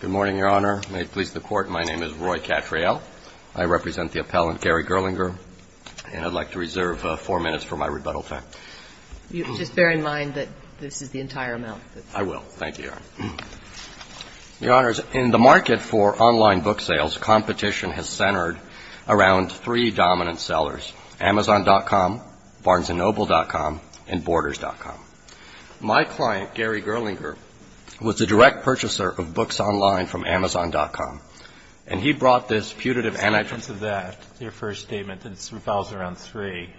Good morning, Your Honor. May it please the Court, my name is Roy Cattrall. I represent the appellant, Gary Gerlinger, and I'd like to reserve four minutes for my rebuttal time. Just bear in mind that this is the entire amount. I will. Thank you, Your Honor. Your Honors, in the market for online book sales, competition has centered around three and Borders.com. My client, Gary Gerlinger, was a direct purchaser of books online from Amazon.com, and he brought this putative anti- What's the evidence of that, your first statement? It revolves around three.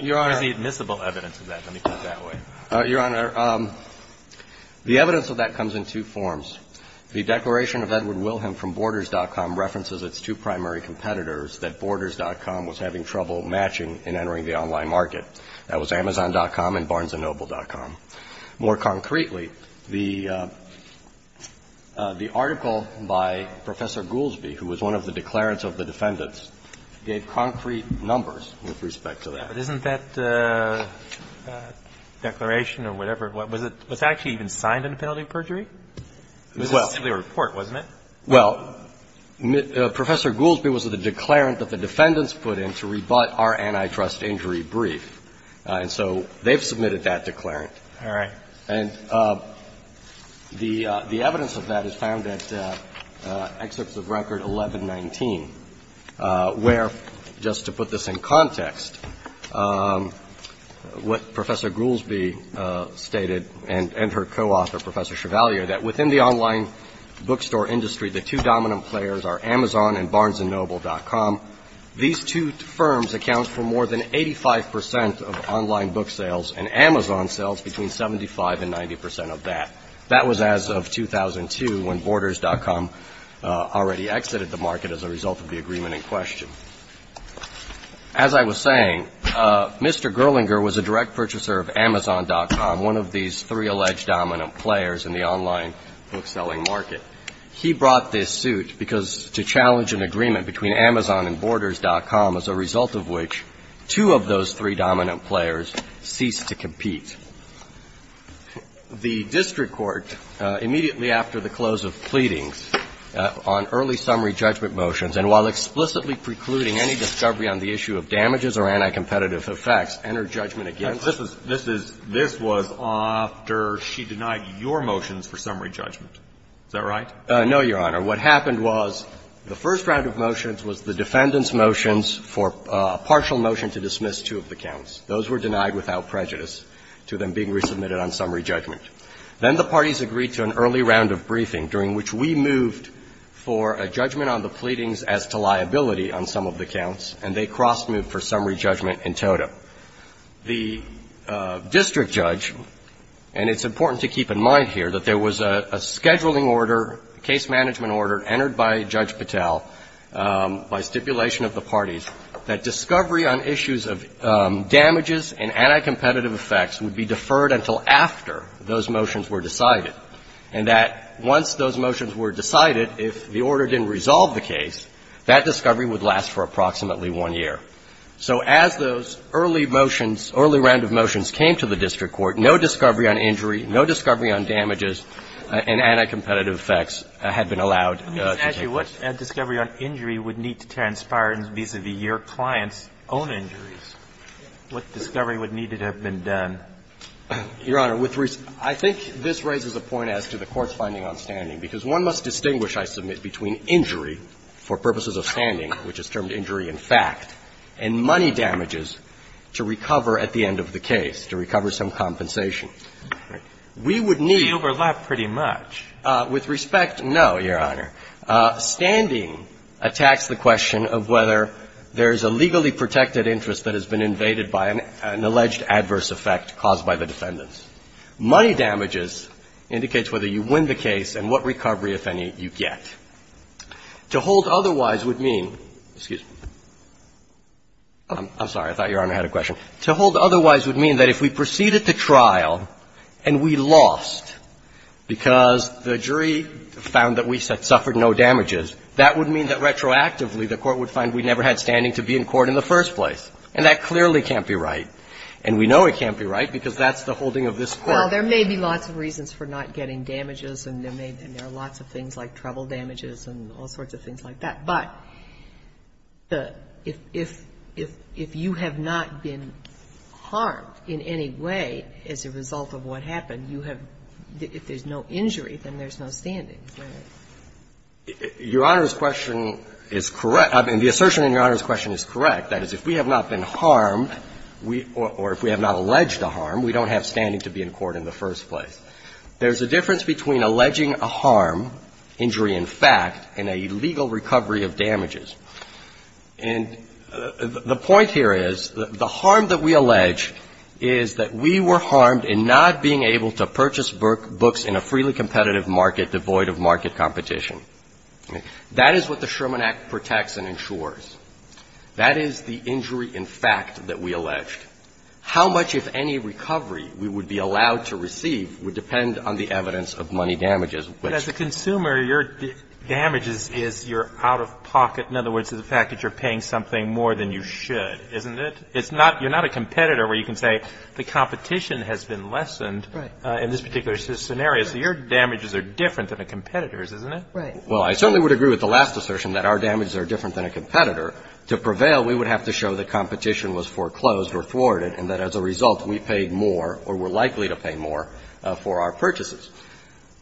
Your Honor. What is the admissible evidence of that? Let me put it that way. Your Honor, the evidence of that comes in two forms. The declaration of Edward Wilhelm from Borders.com references its two primary competitors that Borders.com was having trouble matching in entering the online market. That was Amazon.com and Barnes and Noble.com. More concretely, the article by Professor Goolsbee, who was one of the declarants of the defendants, gave concrete numbers with respect to that. But isn't that declaration or whatever, was it actually even signed into penalty of perjury? It was simply a report, wasn't it? Well, Professor Goolsbee was the declarant that the defendants put in to rebut our antitrust injury brief. And so they've submitted that declarant. All right. And the evidence of that is found at Excerpts of Record 1119, where, just to put this in context, what Professor Goolsbee stated and her co-author, Professor Chevalier, that within the online bookstore industry, the two dominant players are Amazon and Barnes and Noble.com. These two firms account for more than 85 percent of online book sales and Amazon sells between 75 and 90 percent of that. That was as of 2002, when Borders.com already exited the market as a result of the agreement in question. As I was saying, Mr. Gerlinger was a direct purchaser of Amazon.com, one of these three dominant players in the online book-selling market. He brought this suit because to challenge an agreement between Amazon and Borders.com, as a result of which two of those three dominant players ceased to compete. The district court, immediately after the close of pleadings, on early summary judgment motions, and while explicitly precluding any discovery on the issue of damages or anti-competitive effects, entered judgment against her. This was after she denied your motions for summary judgment. Is that right? No, Your Honor. What happened was the first round of motions was the defendant's motions for a partial motion to dismiss two of the counts. Those were denied without prejudice to them being resubmitted on summary judgment. Then the parties agreed to an early round of briefing, during which we moved for a judgment on the pleadings as to liability on some of the counts, and they cross-moved for summary judgment in totem. The district judge, and it's important to keep in mind here, that there was a scheduling order, a case management order, entered by Judge Patel by stipulation of the parties that discovery on issues of damages and anti-competitive effects would be deferred until after those motions were decided, and that once those motions were decided, if the order didn't resolve the case, that discovery would last for approximately one year. So as those early motions, early round of motions came to the district court, no discovery on injury, no discovery on damages and anti-competitive effects had been allowed to take place. Let me ask you, what discovery on injury would need to transpire vis-a-vis your client's own injuries? What discovery would need to have been done? Your Honor, I think this raises a point as to the Court's finding on standing, because one must distinguish, I submit, between injury for purposes of standing, which is termed injury in fact, and money damages to recover at the end of the case, to recover some compensation. We would need to be overlapped pretty much. With respect, no, Your Honor. Standing attacks the question of whether there is a legally protected interest that has been invaded by an alleged adverse effect caused by the defendants. Money damages indicates whether you win the case and what recovery, if any, you get. To hold otherwise would mean, excuse me, I'm sorry, I thought Your Honor had a question. To hold otherwise would mean that if we proceeded to trial and we lost because the jury found that we suffered no damages, that would mean that retroactively the Court would find we never had standing to be in court in the first place, and that clearly can't be right. And we know it can't be right because that's the holding of this Court. Well, there may be lots of reasons for not getting damages, and there are lots of things like trouble damages and all sorts of things like that. But if you have not been harmed in any way as a result of what happened, you have – if there's no injury, then there's no standing, right? Your Honor's question is correct. I mean, the assertion in Your Honor's question is correct. That is, if we have not been harmed, or if we have not alleged a harm, we don't have standing to be in court in the first place. There's a difference between alleging a harm, injury in fact, and a legal recovery of damages. And the point here is, the harm that we allege is that we were harmed in not being able to purchase books in a freely competitive market devoid of market competition. That is what the Sherman Act protects and ensures. That is the injury in fact that we alleged. How much, if any, recovery we would be allowed to receive would depend on the evidence of money damages. But as a consumer, your damages is your out-of-pocket, in other words, the fact that you're paying something more than you should, isn't it? It's not – you're not a competitor where you can say the competition has been lessened in this particular scenario. So your damages are different than a competitor's, isn't it? Right. Well, I certainly would agree with the last assertion that our damages are different than a competitor. To prevail, we would have to show that competition was foreclosed or thwarted and that as a result, we paid more or were likely to pay more for our purchases.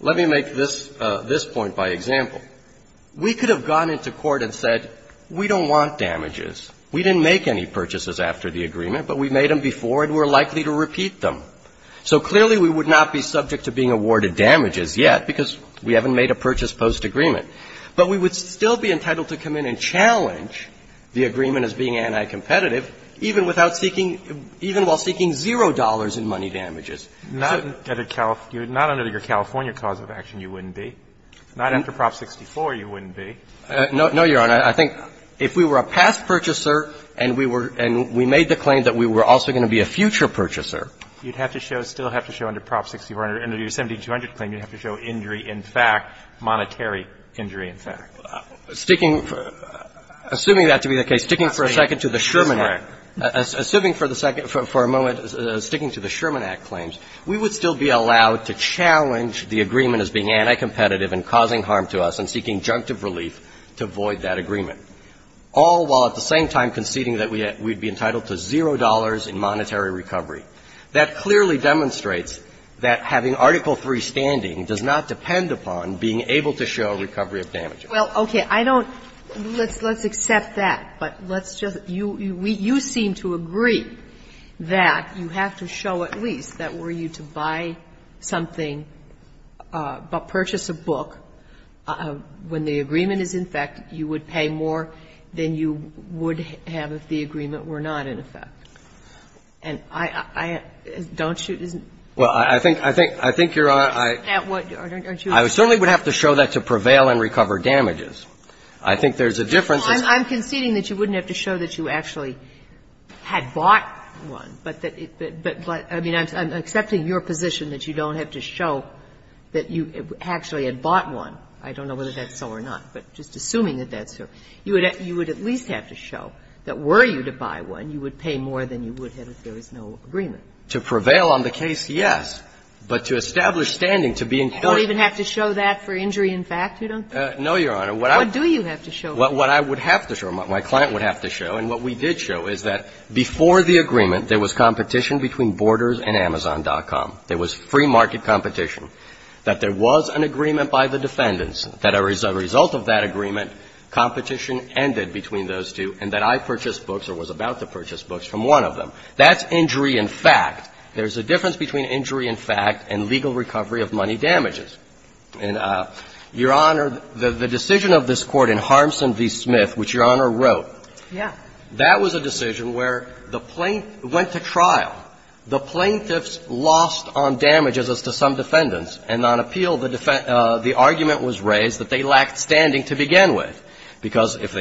Let me make this point by example. We could have gone into court and said, we don't want damages. We didn't make any purchases after the agreement, but we made them before and we're likely to repeat them. So clearly, we would not be subject to being awarded damages yet because we haven't made a purchase post-agreement. But we would still be entitled to come in and challenge the agreement as being anti-competitive even without seeking – even while seeking zero dollars in money damages. Not under the California cause of action, you wouldn't be. Not after Prop 64, you wouldn't be. No, Your Honor. I think if we were a past purchaser and we were – and we made the claim that we were also going to be a future purchaser. You'd have to show – still have to show under Prop 64, under your 17200 claim, you'd have to show injury in fact, monetary injury in fact. Sticking – assuming that to be the case, sticking for a second to the Sherman Act – assuming for the second – for a moment, sticking to the Sherman Act claims, we would still be allowed to challenge the agreement as being anti-competitive and causing harm to us and seeking junctive relief to void that agreement, all while at the same time conceding that we'd be entitled to zero dollars in monetary recovery. That clearly demonstrates that having Article III standing does not depend upon being able to show recovery of damages. Well, okay. I don't – let's accept that, but let's just – you seem to agree that you have to show at least that were you to buy something, purchase a book, when the agreement is in effect, you would pay more than you would have if the agreement were not in effect. And I – don't you – isn't that what you're saying? I certainly would have to show that to prevail and recover damages. I think there's a difference. I'm conceding that you wouldn't have to show that you actually had bought one, but I mean, I'm accepting your position that you don't have to show that you actually had bought one. I don't know whether that's so or not, but just assuming that that's so. You would at least have to show that were you to buy one, you would pay more than you would have if there is no agreement. To prevail on the case, yes, but to establish standing, to be in court – You don't even have to show that for injury in fact, you don't? No, Your Honor. What I – What do you have to show? What I would have to show, my client would have to show, and what we did show is that before the agreement, there was competition between Borders and Amazon.com. There was free market competition. That there was an agreement by the defendants, that as a result of that agreement, competition ended between those two, and that I purchased books or was about to purchase books from one of them. That's injury in fact. There's a difference between injury in fact and legal recovery of money damages. And, Your Honor, the decision of this Court in Harmson v. Smith, which Your Honor wrote, that was a decision where the plaint – went to trial. The plaintiffs lost on damages as to some defendants, and on appeal, the argument was raised that they lacked standing to begin with, because if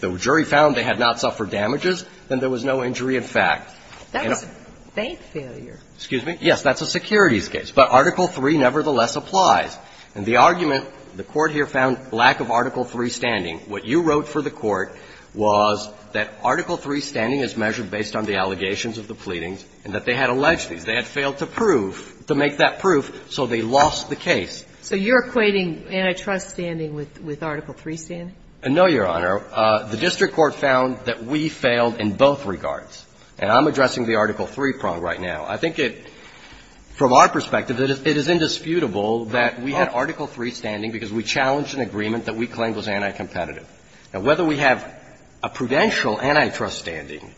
the jury found they had not suffered damages, then there was no injury in fact. That was a bank failure. Excuse me? Yes. That's a securities case. But Article III nevertheless applies. And the argument, the Court here found lack of Article III standing. What you wrote for the Court was that Article III standing is measured based on the allegations of the pleadings and that they had alleged these. They had failed to prove, to make that proof, so they lost the case. So you're equating antitrust standing with Article III standing? No, Your Honor. The district court found that we failed in both regards. And I'm addressing the Article III prong right now. I think it – from our perspective, it is indisputable that we had Article III standing because we challenged an agreement that we claimed was anticompetitive. Now, whether we have a prudential antitrust standing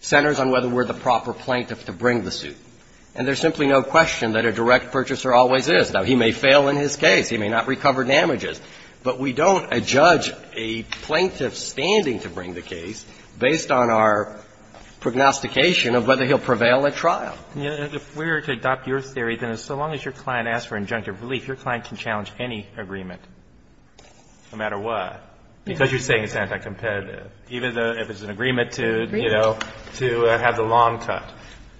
centers on whether we're the proper plaintiff to bring the suit. And there's simply no question that a direct purchaser always is. Now, he may fail in his case. He may not recover damages. But we don't adjudge a plaintiff's standing to bring the case based on our prognostication of whether he'll prevail at trial. If we were to adopt your theory, then so long as your client asks for injunctive relief, your client can challenge any agreement, no matter what, because you're saying it's anticompetitive. Even if it's an agreement to, you know, to have the lawn cut,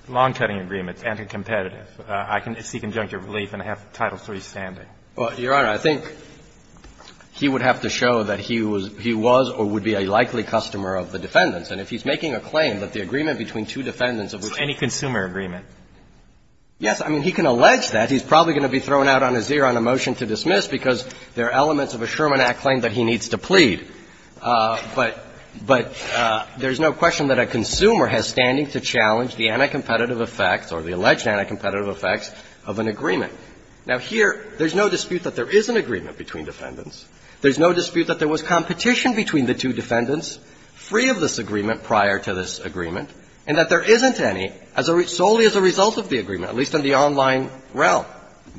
lawn-cutting agreement, it's anticompetitive. I can seek injunctive relief and have Title III standing. Well, Your Honor, I think he would have to show that he was or would be a likely customer of the defendants. And if he's making a claim that the agreement between two defendants of which he's making a claim That's any consumer agreement. Yes. I mean, he can allege that. He's probably going to be thrown out on his ear on a motion to dismiss because there are elements of a Sherman Act claim that he needs to plead. But there's no question that a consumer has standing to challenge the anticompetitive effects or the alleged anticompetitive effects of an agreement. Now, here, there's no dispute that there is an agreement between defendants. There's no dispute that there was competition between the two defendants free of this agreement prior to this agreement and that there isn't any, solely as a result of the agreement, at least in the online realm,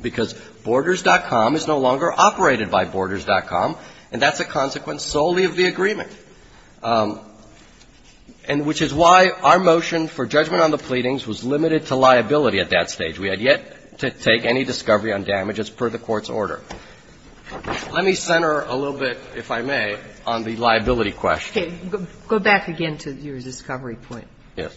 because Borders.com is no longer operated by Borders.com, and that's a consequence solely of the agreement, which is why our motion for judgment on the pleadings was limited to liability at that stage. We had yet to take any discovery on damages per the Court's order. Let me center a little bit, if I may, on the liability question. Okay. Go back again to your discovery point. Yes.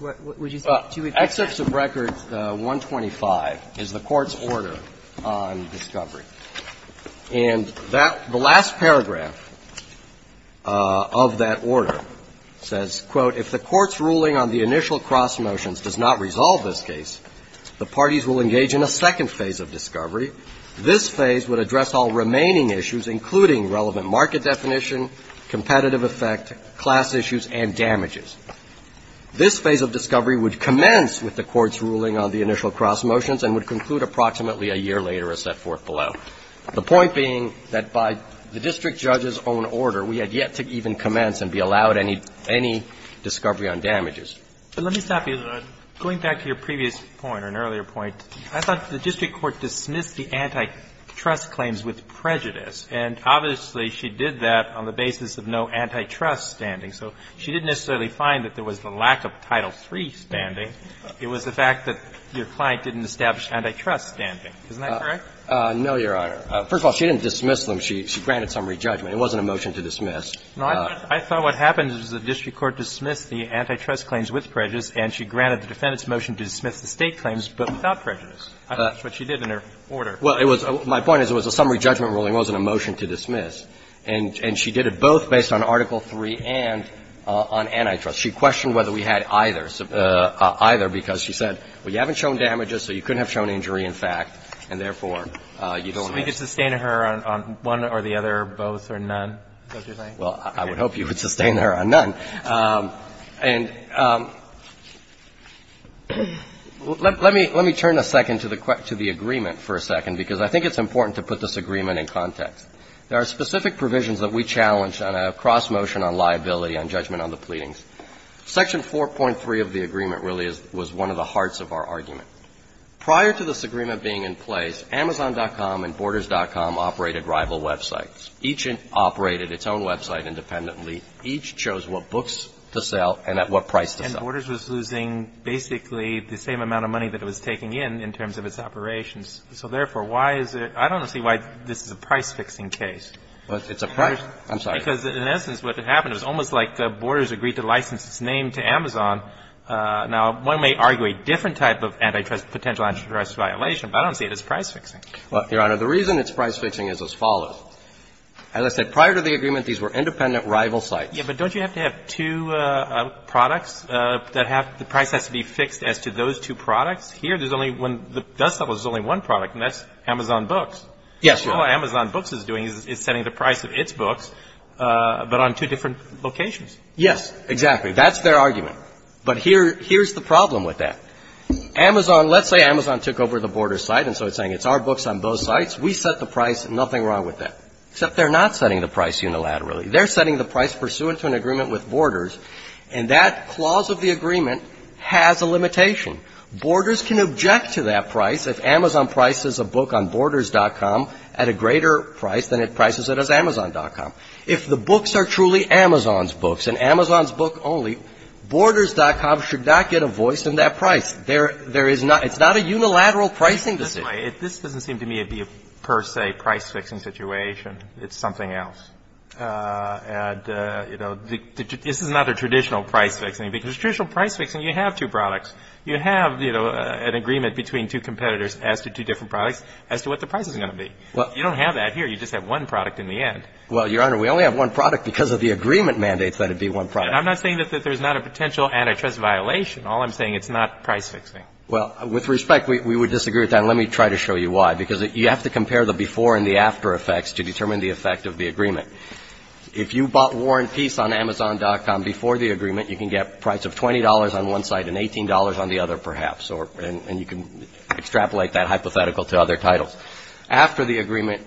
Would you say two examples? Excerpts of Record 125 is the Court's order on discovery. And that the last paragraph of that order says, quote, The point being that by the district judge's own order, we had yet to even commence Now, if the Court's ruling on the initial cross-motions does not resolve this case, the parties will engage in a second phase of discovery. This phase would address all remaining issues, including relevant market definition, competitive effect, class issues, and damages. This phase of discovery would commence with the Court's ruling on the initial cross-motions and would conclude approximately a year later, as set forth below. The point being that by the district judge's own order, we had yet to even commence and be allowed any discovery on damages. But let me stop you. Going back to your previous point or an earlier point, I thought the district court dismissed the antitrust claims with prejudice. And obviously, she did that on the basis of no antitrust standing. So she didn't necessarily find that there was the lack of Title III standing. It was the fact that your client didn't establish antitrust standing. Isn't that correct? No, Your Honor. First of all, she didn't dismiss them. She granted summary judgment. It wasn't a motion to dismiss. No, I thought what happened is the district court dismissed the antitrust claims with prejudice, and she granted the defendant's motion to dismiss the State claims, but without prejudice. I think that's what she did in her order. Well, it was my point is it was a summary judgment ruling. It wasn't a motion to dismiss. And she did it both based on Article III and on antitrust. She questioned whether we had either, either because she said, well, you haven't shown damages, so you couldn't have shown injury in fact, and therefore, you don't have that. So we could sustain her on one or the other, both or none, is that what you're saying? Well, I would hope you would sustain her on none. And let me turn a second to the agreement for a second, because I think it's important to put this agreement in context. There are specific provisions that we challenge on a cross motion on liability on judgment on the pleadings. Section 4.3 of the agreement really is, was one of the hearts of our argument. Prior to this agreement being in place, Amazon.com and Borders.com operated rival websites. Each operated its own website independently. Each chose what books to sell and at what price to sell. And Borders was losing basically the same amount of money that it was taking in, in terms of its operations. So therefore, why is it, I don't see why this is a price fixing case. It's a price, I'm sorry. Because in essence, what happened is almost like Borders agreed to license its name to Amazon. Now, one may argue a different type of antitrust, potential antitrust violation, but I don't see it as price fixing. Well, Your Honor, the reason it's price fixing is as follows. As I said, prior to the agreement, these were independent rival sites. Yeah, but don't you have to have two products that have, the price has to be fixed as to those two products? Here, there's only one, there's only one product, and that's Amazon Books. Yes, Your Honor. All Amazon Books is doing is setting the price of its books. But on two different locations. Yes, exactly. That's their argument. But here's the problem with that. Amazon, let's say Amazon took over the Borders site, and so it's saying it's our books on both sites, we set the price, nothing wrong with that. Except they're not setting the price unilaterally. They're setting the price pursuant to an agreement with Borders. And that clause of the agreement has a limitation. Borders can object to that price if Amazon prices a book on borders.com at a greater price than it prices it as Amazon.com. If the books are truly Amazon's books, and Amazon's book only, Borders.com should not get a voice in that price. There is not, it's not a unilateral pricing decision. This doesn't seem to me to be a per se price fixing situation. It's something else. And, you know, this is not a traditional price fixing. Because traditional price fixing, you have two products. You have, you know, an agreement between two competitors as to two different products as to what the price is going to be. You don't have that here. You just have one product in the end. Well, Your Honor, we only have one product because of the agreement mandates that it be one product. And I'm not saying that there's not a potential antitrust violation. All I'm saying, it's not price fixing. Well, with respect, we would disagree with that. And let me try to show you why. Because you have to compare the before and the after effects to determine the effect of the agreement. If you bought War and Peace on Amazon.com before the agreement, you can get a price of $20 on one site and $18 on the other, perhaps. And you can extrapolate that hypothetical to other titles. After the agreement,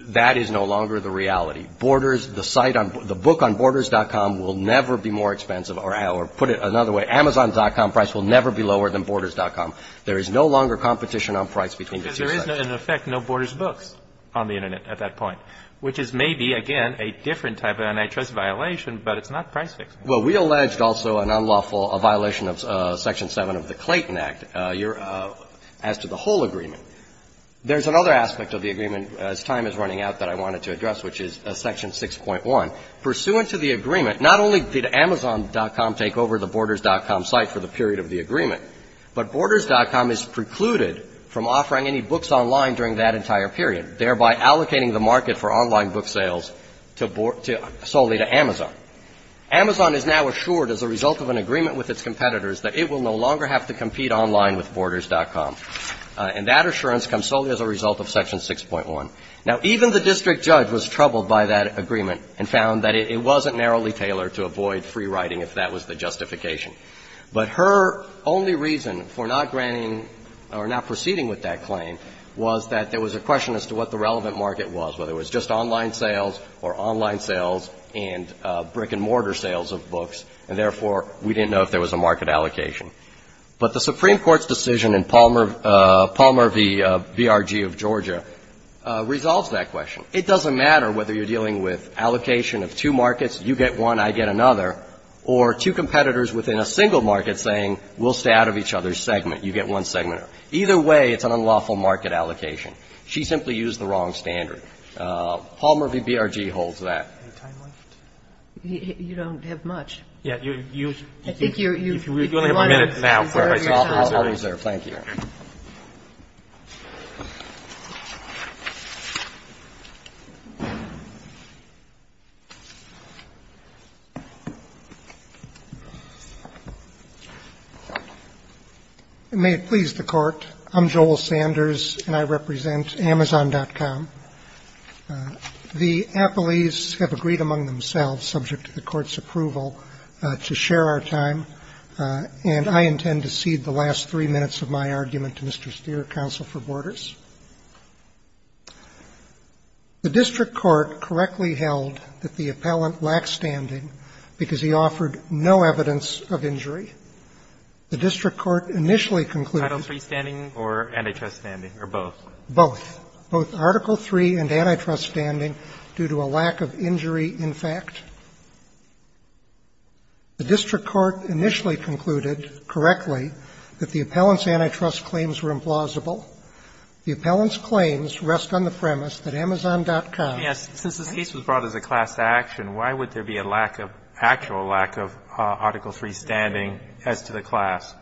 that is no longer the reality. Borders, the site on, the book on Borders.com will never be more expensive. Or put it another way, Amazon.com price will never be lower than Borders.com. There is no longer competition on price between the two sites. Because there is, in effect, no Borders books on the Internet at that point. Which is maybe, again, a different type of antitrust violation, but it's not price fixing. Well, we alleged also an unlawful violation of Section 7 of the Clayton Act as to the whole agreement. There's another aspect of the agreement, as time is running out, that I wanted to address, which is Section 6.1. Pursuant to the agreement, not only did Amazon.com take over the Borders.com site for the period of the agreement, but Borders.com is precluded from offering any books online during that entire period, thereby allocating the market for online book sales solely to Amazon. Amazon is now assured, as a result of an agreement with its competitors, that it will no longer have to compete online with Borders.com, and that assurance comes solely as a result of Section 6.1. Now, even the district judge was troubled by that agreement and found that it wasn't narrowly tailored to avoid free writing, if that was the justification. But her only reason for not granting or not proceeding with that claim was that there was a question as to what the relevant market was, whether it was just brick-and-mortar sales of books, and, therefore, we didn't know if there was a market allocation. But the Supreme Court's decision in Palmer v. BRG of Georgia resolves that question. It doesn't matter whether you're dealing with allocation of two markets, you get one, I get another, or two competitors within a single market saying, we'll stay out of each other's segment, you get one segment. Either way, it's an unlawful market allocation. She simply used the wrong standard. Palmer v. BRG holds that. Do we have any time left? You don't have much. I think you're running out of time. Thank you. May it please the Court. I'm Joel Sanders, and I represent Amazon.com. The appellees have agreed among themselves, subject to the Court's approval, to share our time, and I intend to cede the last three minutes of my argument to Mr. Steere, counsel for Borders. The district court correctly held that the appellant lacked standing because he offered no evidence of injury. The district court initially concluded, correctly, that the appellant's antitrust claims were implausible. The appellant's claims rest on the premise that Amazon.com was brought as a class action. Why would there be a lack of actual lack of Article III standing as to the class?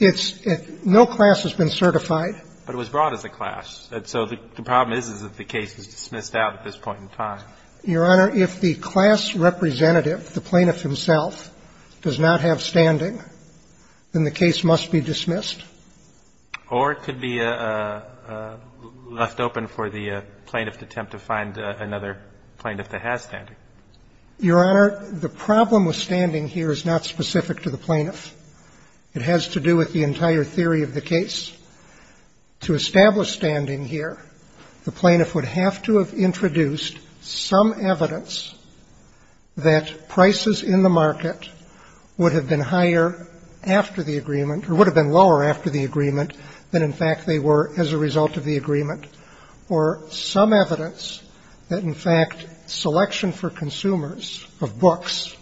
It's no class has been certified. But it was brought as a class. And so the problem is, is that the case is dismissed out at this point in time. Your Honor, if the class representative, the plaintiff himself, does not have standing, then the case must be dismissed. Or it could be left open for the plaintiff to attempt to find another plaintiff that has standing. Your Honor, the problem with standing here is not specific to the plaintiff. It has to do with the entire theory of the case. To establish standing here, the plaintiff would have to have introduced some evidence that prices in the market would have been higher after the agreement, or would have been lower after the agreement, than in fact they were as a result of the agreement, or some evidence that in fact selection for consumers of books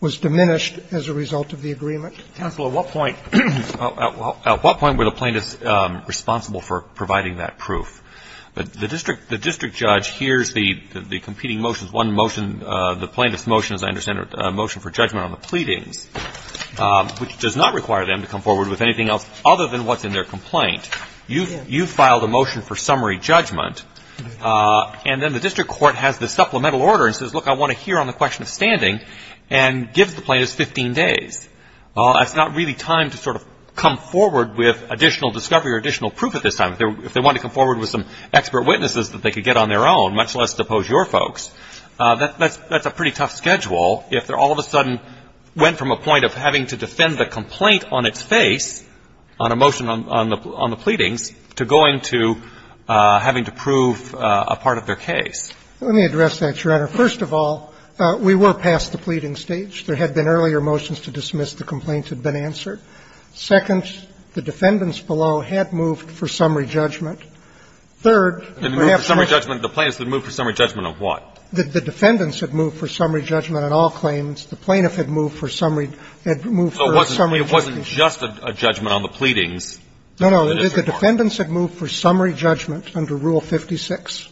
was diminished as a result of the agreement. Counsel, at what point were the plaintiffs responsible for providing that proof? The district judge hears the competing motions, one motion, the plaintiff's motion, as I understand it, a motion for judgment on the pleadings, which does not require them to come forward with anything else other than what's in their complaint. You filed a motion for summary judgment. And then the district court has the supplemental order and says, look, I want to hear on the question of standing, and gives the plaintiffs 15 days. It's not really time to sort of come forward with additional discovery or additional proof at this time. If they wanted to come forward with some expert witnesses that they could get on their own, much less to oppose your folks, that's a pretty tough schedule if they all of a sudden went from a point of having to defend the complaint on its face, on a motion on the pleadings, to going to having to prove a part of their case. Let me address that, Your Honor. First of all, we were past the pleading stage. There had been earlier motions to dismiss the complaint had been answered. Second, the defendants below had moved for summary judgment. Third, perhaps the ---- The plaintiffs had moved for summary judgment on what? The defendants had moved for summary judgment on all claims. The plaintiff had moved for summary ---- So it wasn't just a judgment on the pleadings. No, no. The defendants had moved for summary judgment under Rule 56.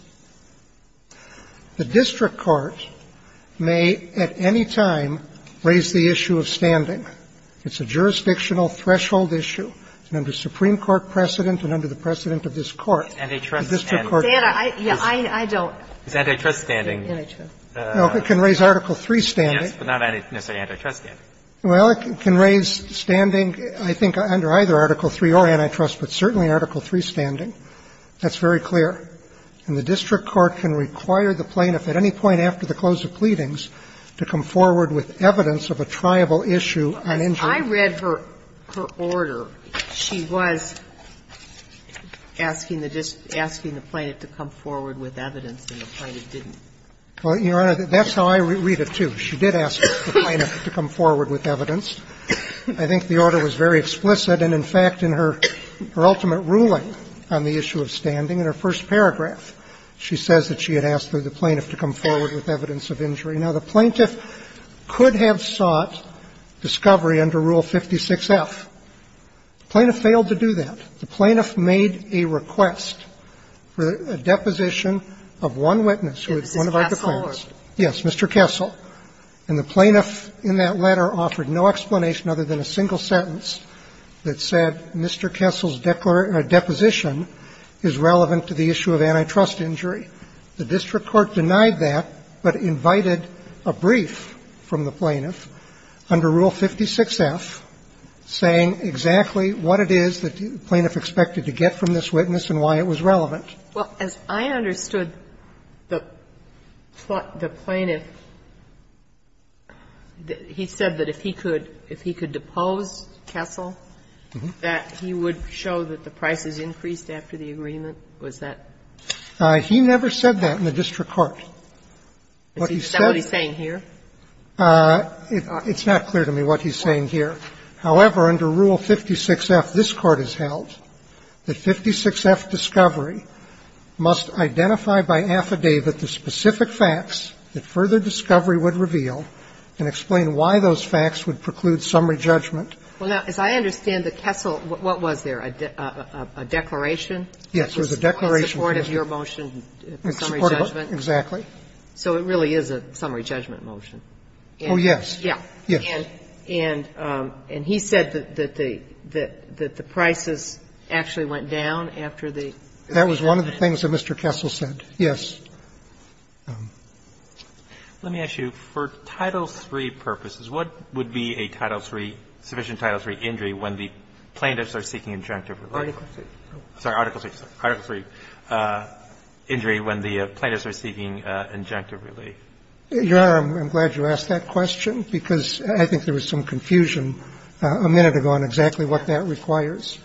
The district court may at any time raise the issue of standing. It's a jurisdictional threshold issue. And under Supreme Court precedent and under the precedent of this Court, the district court can raise it. It's antitrust standing. No, it can raise Article III standing. Yes, but not necessarily antitrust standing. Well, it can raise standing, I think, under either Article III or antitrust, but certainly Article III standing. That's very clear. And the district court can require the plaintiff at any point after the close of pleadings to come forward with evidence of a triable issue on injury. As I read her order, she was asking the district, asking the plaintiff to come forward with evidence, and the plaintiff didn't. Well, Your Honor, that's how I read it, too. She did ask the plaintiff to come forward with evidence. I think the order was very explicit, and, in fact, in her ultimate ruling on the issue of standing in her first paragraph, she says that she had asked for the plaintiff to come forward with evidence of injury. Now, the plaintiff could have sought discovery under Rule 56F. The plaintiff failed to do that. The plaintiff made a request for a deposition of one witness who was one of our defendants. Yes, Mr. Kessel. And the plaintiff in that letter offered no explanation other than a single sentence that said, Mr. Kessel's deposition is relevant to the issue of antitrust injury. The district court denied that, but invited a brief from the plaintiff under Rule 56F saying exactly what it is that the plaintiff expected to get from this witness and why it was relevant. Well, as I understood the plaintiff, he said that if he could, if he could depose Kessel, that he would show that the price is increased after the agreement. Was that? He never said that in the district court. Is that what he's saying here? It's not clear to me what he's saying here. However, under Rule 56F, this Court has held that 56F discovery must identify by affidavit the specific facts that further discovery would reveal and explain why those facts would preclude summary judgment. Well, now, as I understand the Kessel, what was there, a declaration? Yes, there was a declaration. In support of your motion, summary judgment. Exactly. So it really is a summary judgment motion. Oh, yes. Yeah. And he said that the prices actually went down after the agreement. That was one of the things that Mr. Kessel said, yes. Let me ask you, for Title III purposes, what would be a Title III, sufficient Title III injury when the plaintiffs are seeking injunctive relief? Article III. Sorry, Article III. Article III injury when the plaintiffs are seeking injunctive relief. Your Honor, I'm glad you asked that question, because I think there was some confusion a minute ago on exactly what that requires.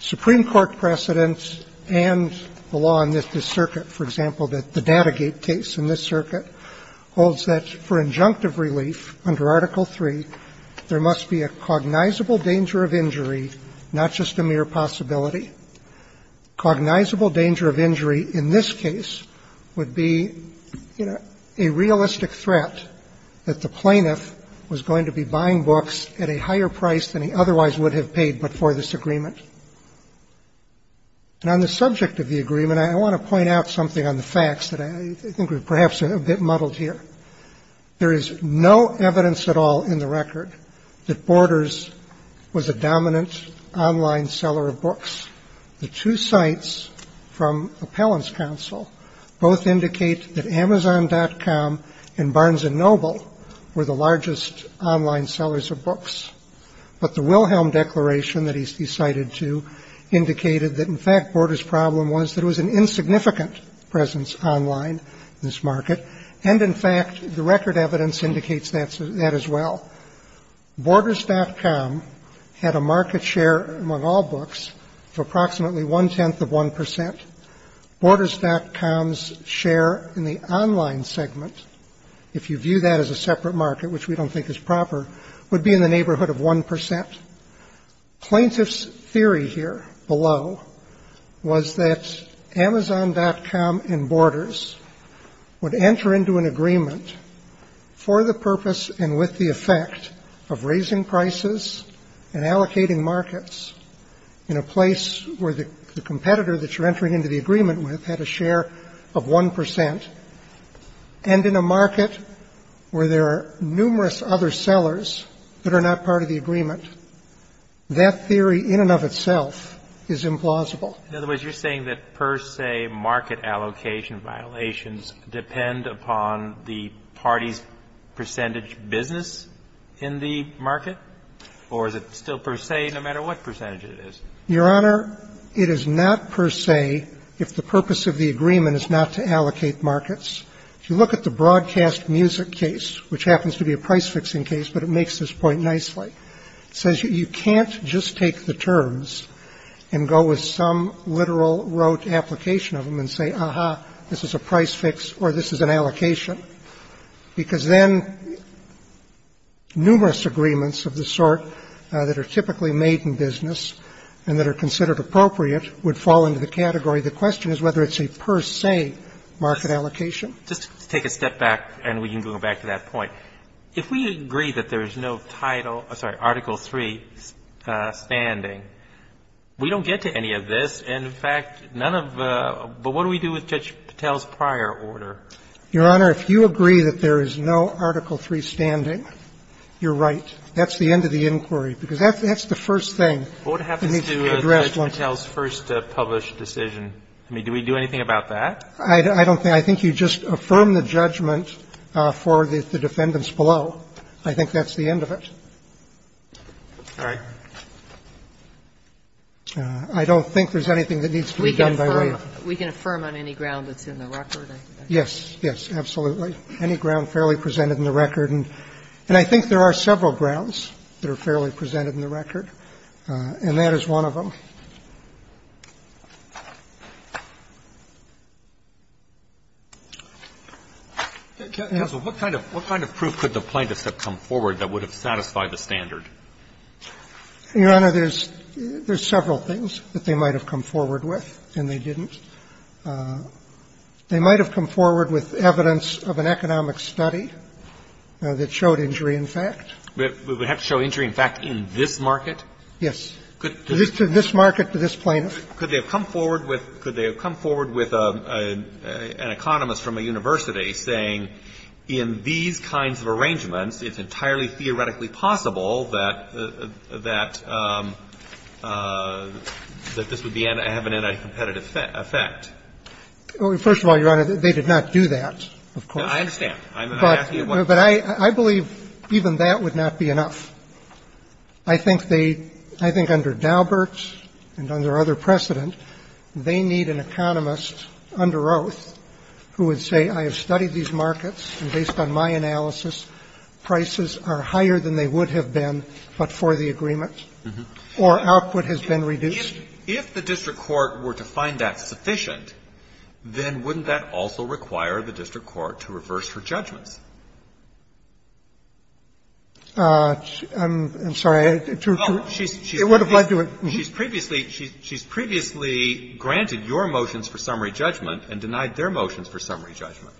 Supreme Court precedents and the law in this circuit, for example, that the Datagate case in this circuit, holds that for injunctive relief under Article III, there must be a cognizable danger of injury, not just a mere possibility. Cognizable danger of injury in this case would be a realistic threat that the plaintiff was going to be buying books at a higher price than he otherwise would have been paid before this agreement. And on the subject of the agreement, I want to point out something on the facts that I think we're perhaps a bit muddled here. There is no evidence at all in the record that Borders was a dominant online seller of books. The two sites from Appellant's Counsel both indicate that Amazon.com and Barnes and Noble were the largest online sellers of books. But the Wilhelm Declaration that he's cited to indicated that, in fact, Borders' problem was that it was an insignificant presence online in this market, and, in fact, the record evidence indicates that as well. Borders.com had a market share among all books of approximately one-tenth of 1 percent. Borders.com's share in the online segment, if you view that as a separate market, which we don't think is proper, would be in the neighborhood of 1 percent. Plaintiff's theory here below was that Amazon.com and Borders would enter into an agreement for the purpose and with the effect of raising prices and allocating markets in a place where the competitor that you're entering into the agreement with had a share of 1 percent, and in a market where there are numerous other sellers that are not part of the agreement, that theory in and of itself is implausible. In other words, you're saying that per se market allocation violations depend upon the party's percentage business in the market, or is it still per se no matter what percentage it is? Your Honor, it is not per se if the purpose of the agreement is not to allocate markets. If you look at the broadcast music case, which happens to be a price-fixing case, but it makes this point nicely, it says you can't just take the terms and go with some literal rote application of them and say, aha, this is a price fix or this is an allocation, because then numerous agreements of the sort that are typically made in business and that are considered appropriate would fall into the category. The question is whether it's a per se market allocation. Just to take a step back, and we can go back to that point, if we agree that there is no title or, sorry, Article III standing, we don't get to any of this. In fact, none of the – but what do we do with Judge Patel's prior order? Your Honor, if you agree that there is no Article III standing, you're right. That's the end of the inquiry, because that's the first thing. We need to address one. What happens to Judge Patel's first published decision? I mean, do we do anything about that? I don't think – I think you just affirm the judgment for the defendants below. I think that's the end of it. All right. I don't think there's anything that needs to be done by way of the Court. We can affirm on any ground that's in the record. Yes, yes, absolutely, any ground fairly presented in the record. And I think there are several grounds that are fairly presented in the record, and that is one of them. Yes. What kind of proof could the plaintiffs have come forward that would have satisfied the standard? Your Honor, there's several things that they might have come forward with, and they didn't. They might have come forward with evidence of an economic study that showed injury in fact. We would have to show injury in fact in this market? Yes. To this market, to this plaintiff. Could they have come forward with an economist from a university saying in these kinds of arrangements, it's entirely theoretically possible that this would have an anti-competitive effect? First of all, Your Honor, they did not do that, of course. I understand. I'm asking you what? But I believe even that would not be enough. I think they – I think under Daubert and under other precedent, they need an economist under oath who would say I have studied these markets, and based on my analysis, prices are higher than they would have been but for the agreement, or output has been reduced. If the district court were to find that sufficient, then wouldn't that also require the district court to reverse her judgments? I'm sorry. It would have led to a – She's previously granted your motions for summary judgment and denied their motions for summary judgment.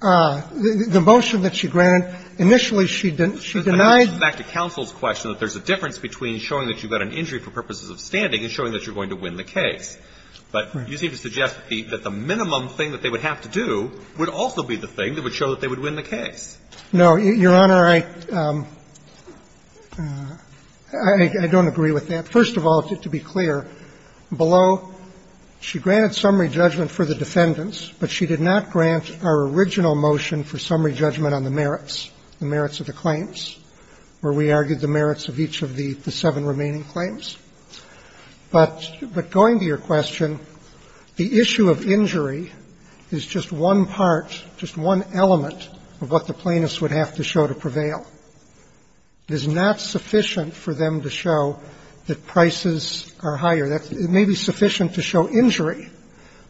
The motion that she granted, initially she denied – Back to counsel's question, that there's a difference between showing that you got an injury for purposes of standing and showing that you're going to win the case. But you seem to suggest that the minimum thing that they would have to do would also be the thing that would show that they would win the case. No, Your Honor, I don't agree with that. First of all, to be clear, below, she granted summary judgment for the defendants, but she did not grant our original motion for summary judgment on the merits, the merits of the claims, where we argued the merits of each of the seven remaining claims. But going to your question, the issue of injury is just one part, just one element of what the plaintiffs would have to show to prevail. It is not sufficient for them to show that prices are higher. It may be sufficient to show injury,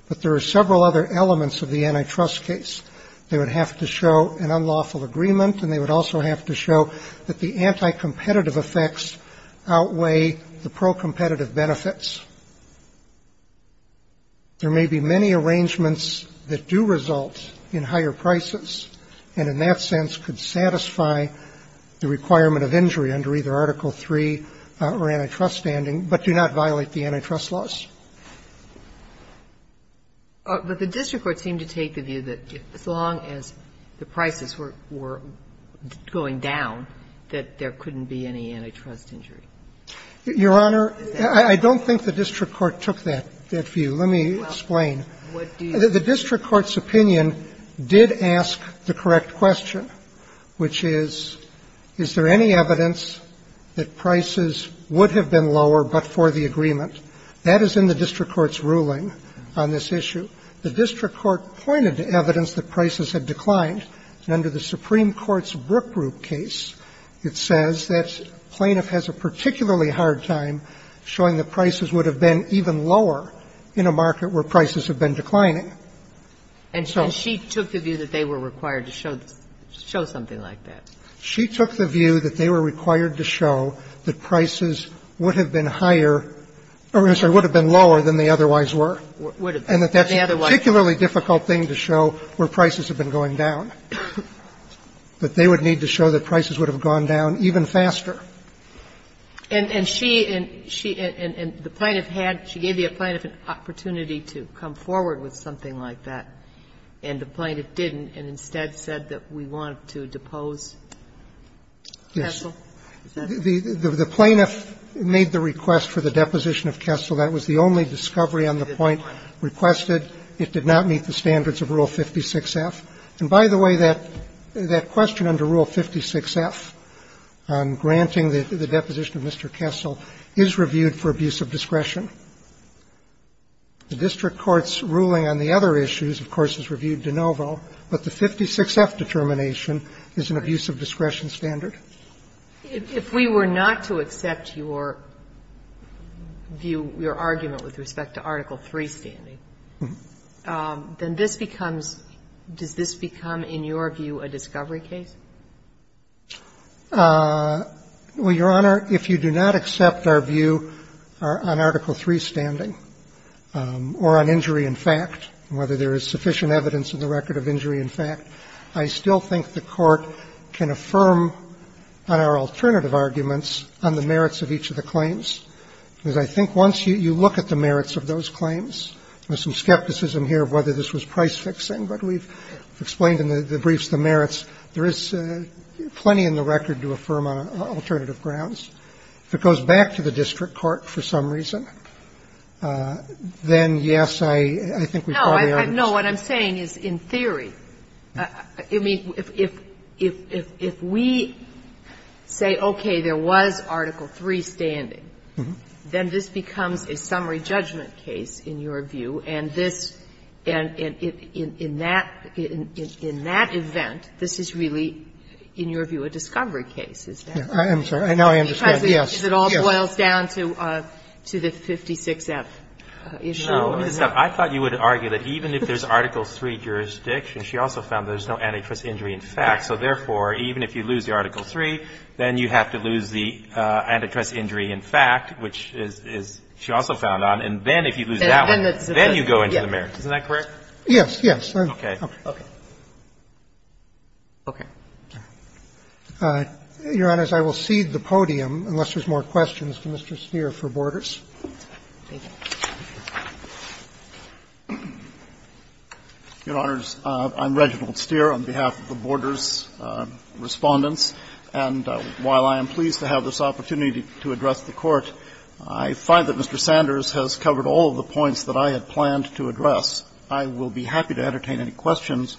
but there are several other elements of the antitrust case. They would have to show an unlawful agreement, and they would also have to show that the anticompetitive effects outweigh the procompetitive benefits. There may be many arrangements that do result in higher prices, and in that sense could satisfy the requirement of injury under either Article III or antitrust standing, but do not violate the antitrust laws. But the district court seemed to take the view that as long as the prices were going down, that there couldn't be any antitrust injury. Your Honor, I don't think the district court took that view. Let me explain. The district court's opinion did ask the correct question, which is, is there any evidence that prices would have been lower but for the agreement? That is in the district court's ruling on this issue. The district court pointed to evidence that prices had declined, and under the Supreme Court's Brook Group case, it says that plaintiff has a particularly hard time showing that prices would have been even lower in a market where prices have been declining. And so she took the view that they were required to show something like that. She took the view that they were required to show that prices would have been higher or, I'm sorry, would have been lower than they otherwise were. And that that's a particularly difficult thing to show where prices have been going down, that they would need to show that prices would have gone down even faster. And she and the plaintiff had to give the plaintiff an opportunity to come forward with something like that, and the plaintiff didn't and instead said that we want to depose the counsel? The plaintiff made the request for the deposition of Kessel. That was the only discovery on the point requested. It did not meet the standards of Rule 56F. And by the way, that question under Rule 56F on granting the deposition of Mr. Kessel is reviewed for abuse of discretion. The district court's ruling on the other issues, of course, is reviewed de novo, but the 56F determination is an abuse of discretion standard. If we were not to accept your view, your argument with respect to Article III standing, then this becomes – does this become, in your view, a discovery case? Well, Your Honor, if you do not accept our view on Article III standing or on injury in fact, whether there is sufficient evidence in the record of injury in fact, I still think the Court can affirm on our alternative arguments on the merits of each of the claims, because I think once you look at the merits of those claims, there's some skepticism here of whether this was price-fixing, but we've explained in the briefs the merits, there is plenty in the record to affirm on alternative grounds. If it goes back to the district court for some reason, then, yes, I think we probably have to go back to the district court for some reason, but I don't think it's a discovery I don't think it's a discovery case, Your Honor. No, what I'm saying is in theory, I mean, if we say, okay, there was Article III standing, then this becomes a summary judgment case, in your view, and this – and in that event, this is really, in your view, a discovery case, is that correct? I am sorry. I know I am discovering it. Yes. Because it all boils down to the 56F issue. No, I thought you would argue that even if there's Article III jurisdiction, she also found there's no antitrust injury in fact, so therefore, even if you lose the Article III, then you have to lose the antitrust injury in fact, which is – she also found on, and then if you lose that one, then you go into the merits, isn't that correct? Yes, yes. Okay. Okay. Okay. Your Honors, I will cede the podium unless there's more questions to Mr. Steere for Borders. Thank you. Your Honors, I'm Reginald Steere on behalf of the Borders Respondents. And while I am pleased to have this opportunity to address the Court, I find that Mr. Sanders has covered all of the points that I had planned to address. I will be happy to entertain any questions,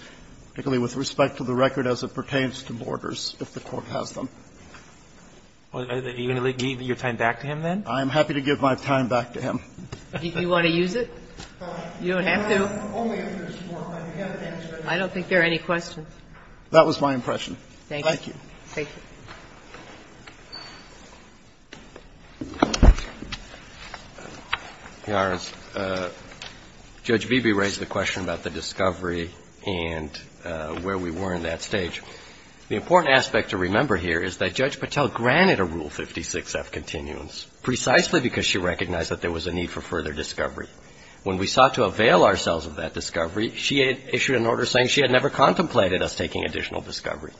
particularly with respect to the record as it pertains to Borders, if the Court has them. Are you going to leave your time back to him then? I'm happy to give my time back to him. Do you want to use it? You don't have to. I don't think there are any questions. That was my impression. Thank you. Thank you. Your Honors, Judge Beebe raised the question about the discovery and where we were in that stage. The important aspect to remember here is that Judge Patel granted a Rule 56F continuance precisely because she recognized that there was a need for further discovery. When we sought to avail ourselves of that discovery, she issued an order saying she had never contemplated us taking additional discovery.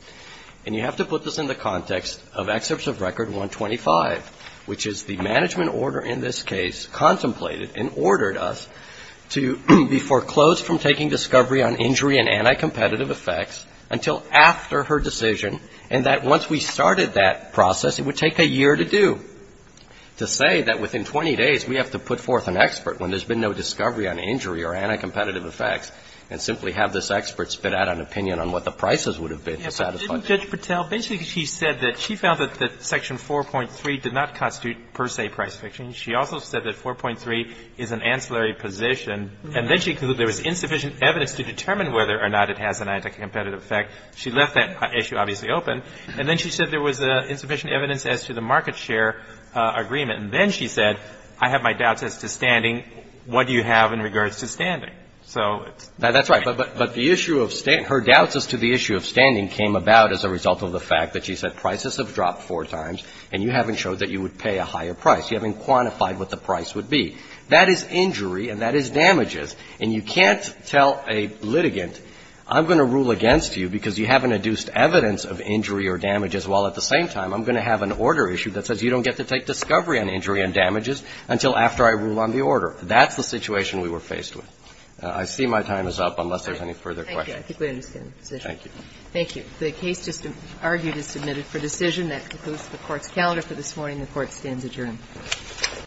You have to put this in the context of Excerpts of Record 125, which is the management order in this case contemplated and ordered us to be foreclosed from taking discovery on injury and anti-competitive effects until after her decision, and that once we started that process it would take a year to do. To say that within 20 days we have to put forth an expert when there's been no discovery on injury or anti-competitive effects and simply have this expert spit out an opinion on what the prices would have been to satisfy that. But didn't Judge Patel, basically she said that she found that Section 4.3 did not constitute per se price fiction. She also said that 4.3 is an ancillary position, and then she concluded there was insufficient evidence to determine whether or not it has an anti-competitive effect. She left that issue obviously open, and then she said there was insufficient evidence as to the market share agreement, and then she said, I have my doubts as to standing. What do you have in regards to standing? So it's right. But the issue of her doubts as to the issue of standing came about as a result of the fact that she said prices have dropped four times and you haven't showed that you would pay a higher price. You haven't quantified what the price would be. That is injury and that is damages, and you can't tell a litigant, I'm going to rule against you because you haven't adduced evidence of injury or damages, while at the same time I'm going to have an order issue that says you don't get to take discovery on injury and damages until after I rule on the order. That's the situation we were faced with. I see my time is up unless there's any further questions. Thank you. I think we understand the position. Thank you. Thank you. The case just argued is submitted for decision. That concludes the Court's calendar for this morning. The Court stands adjourned.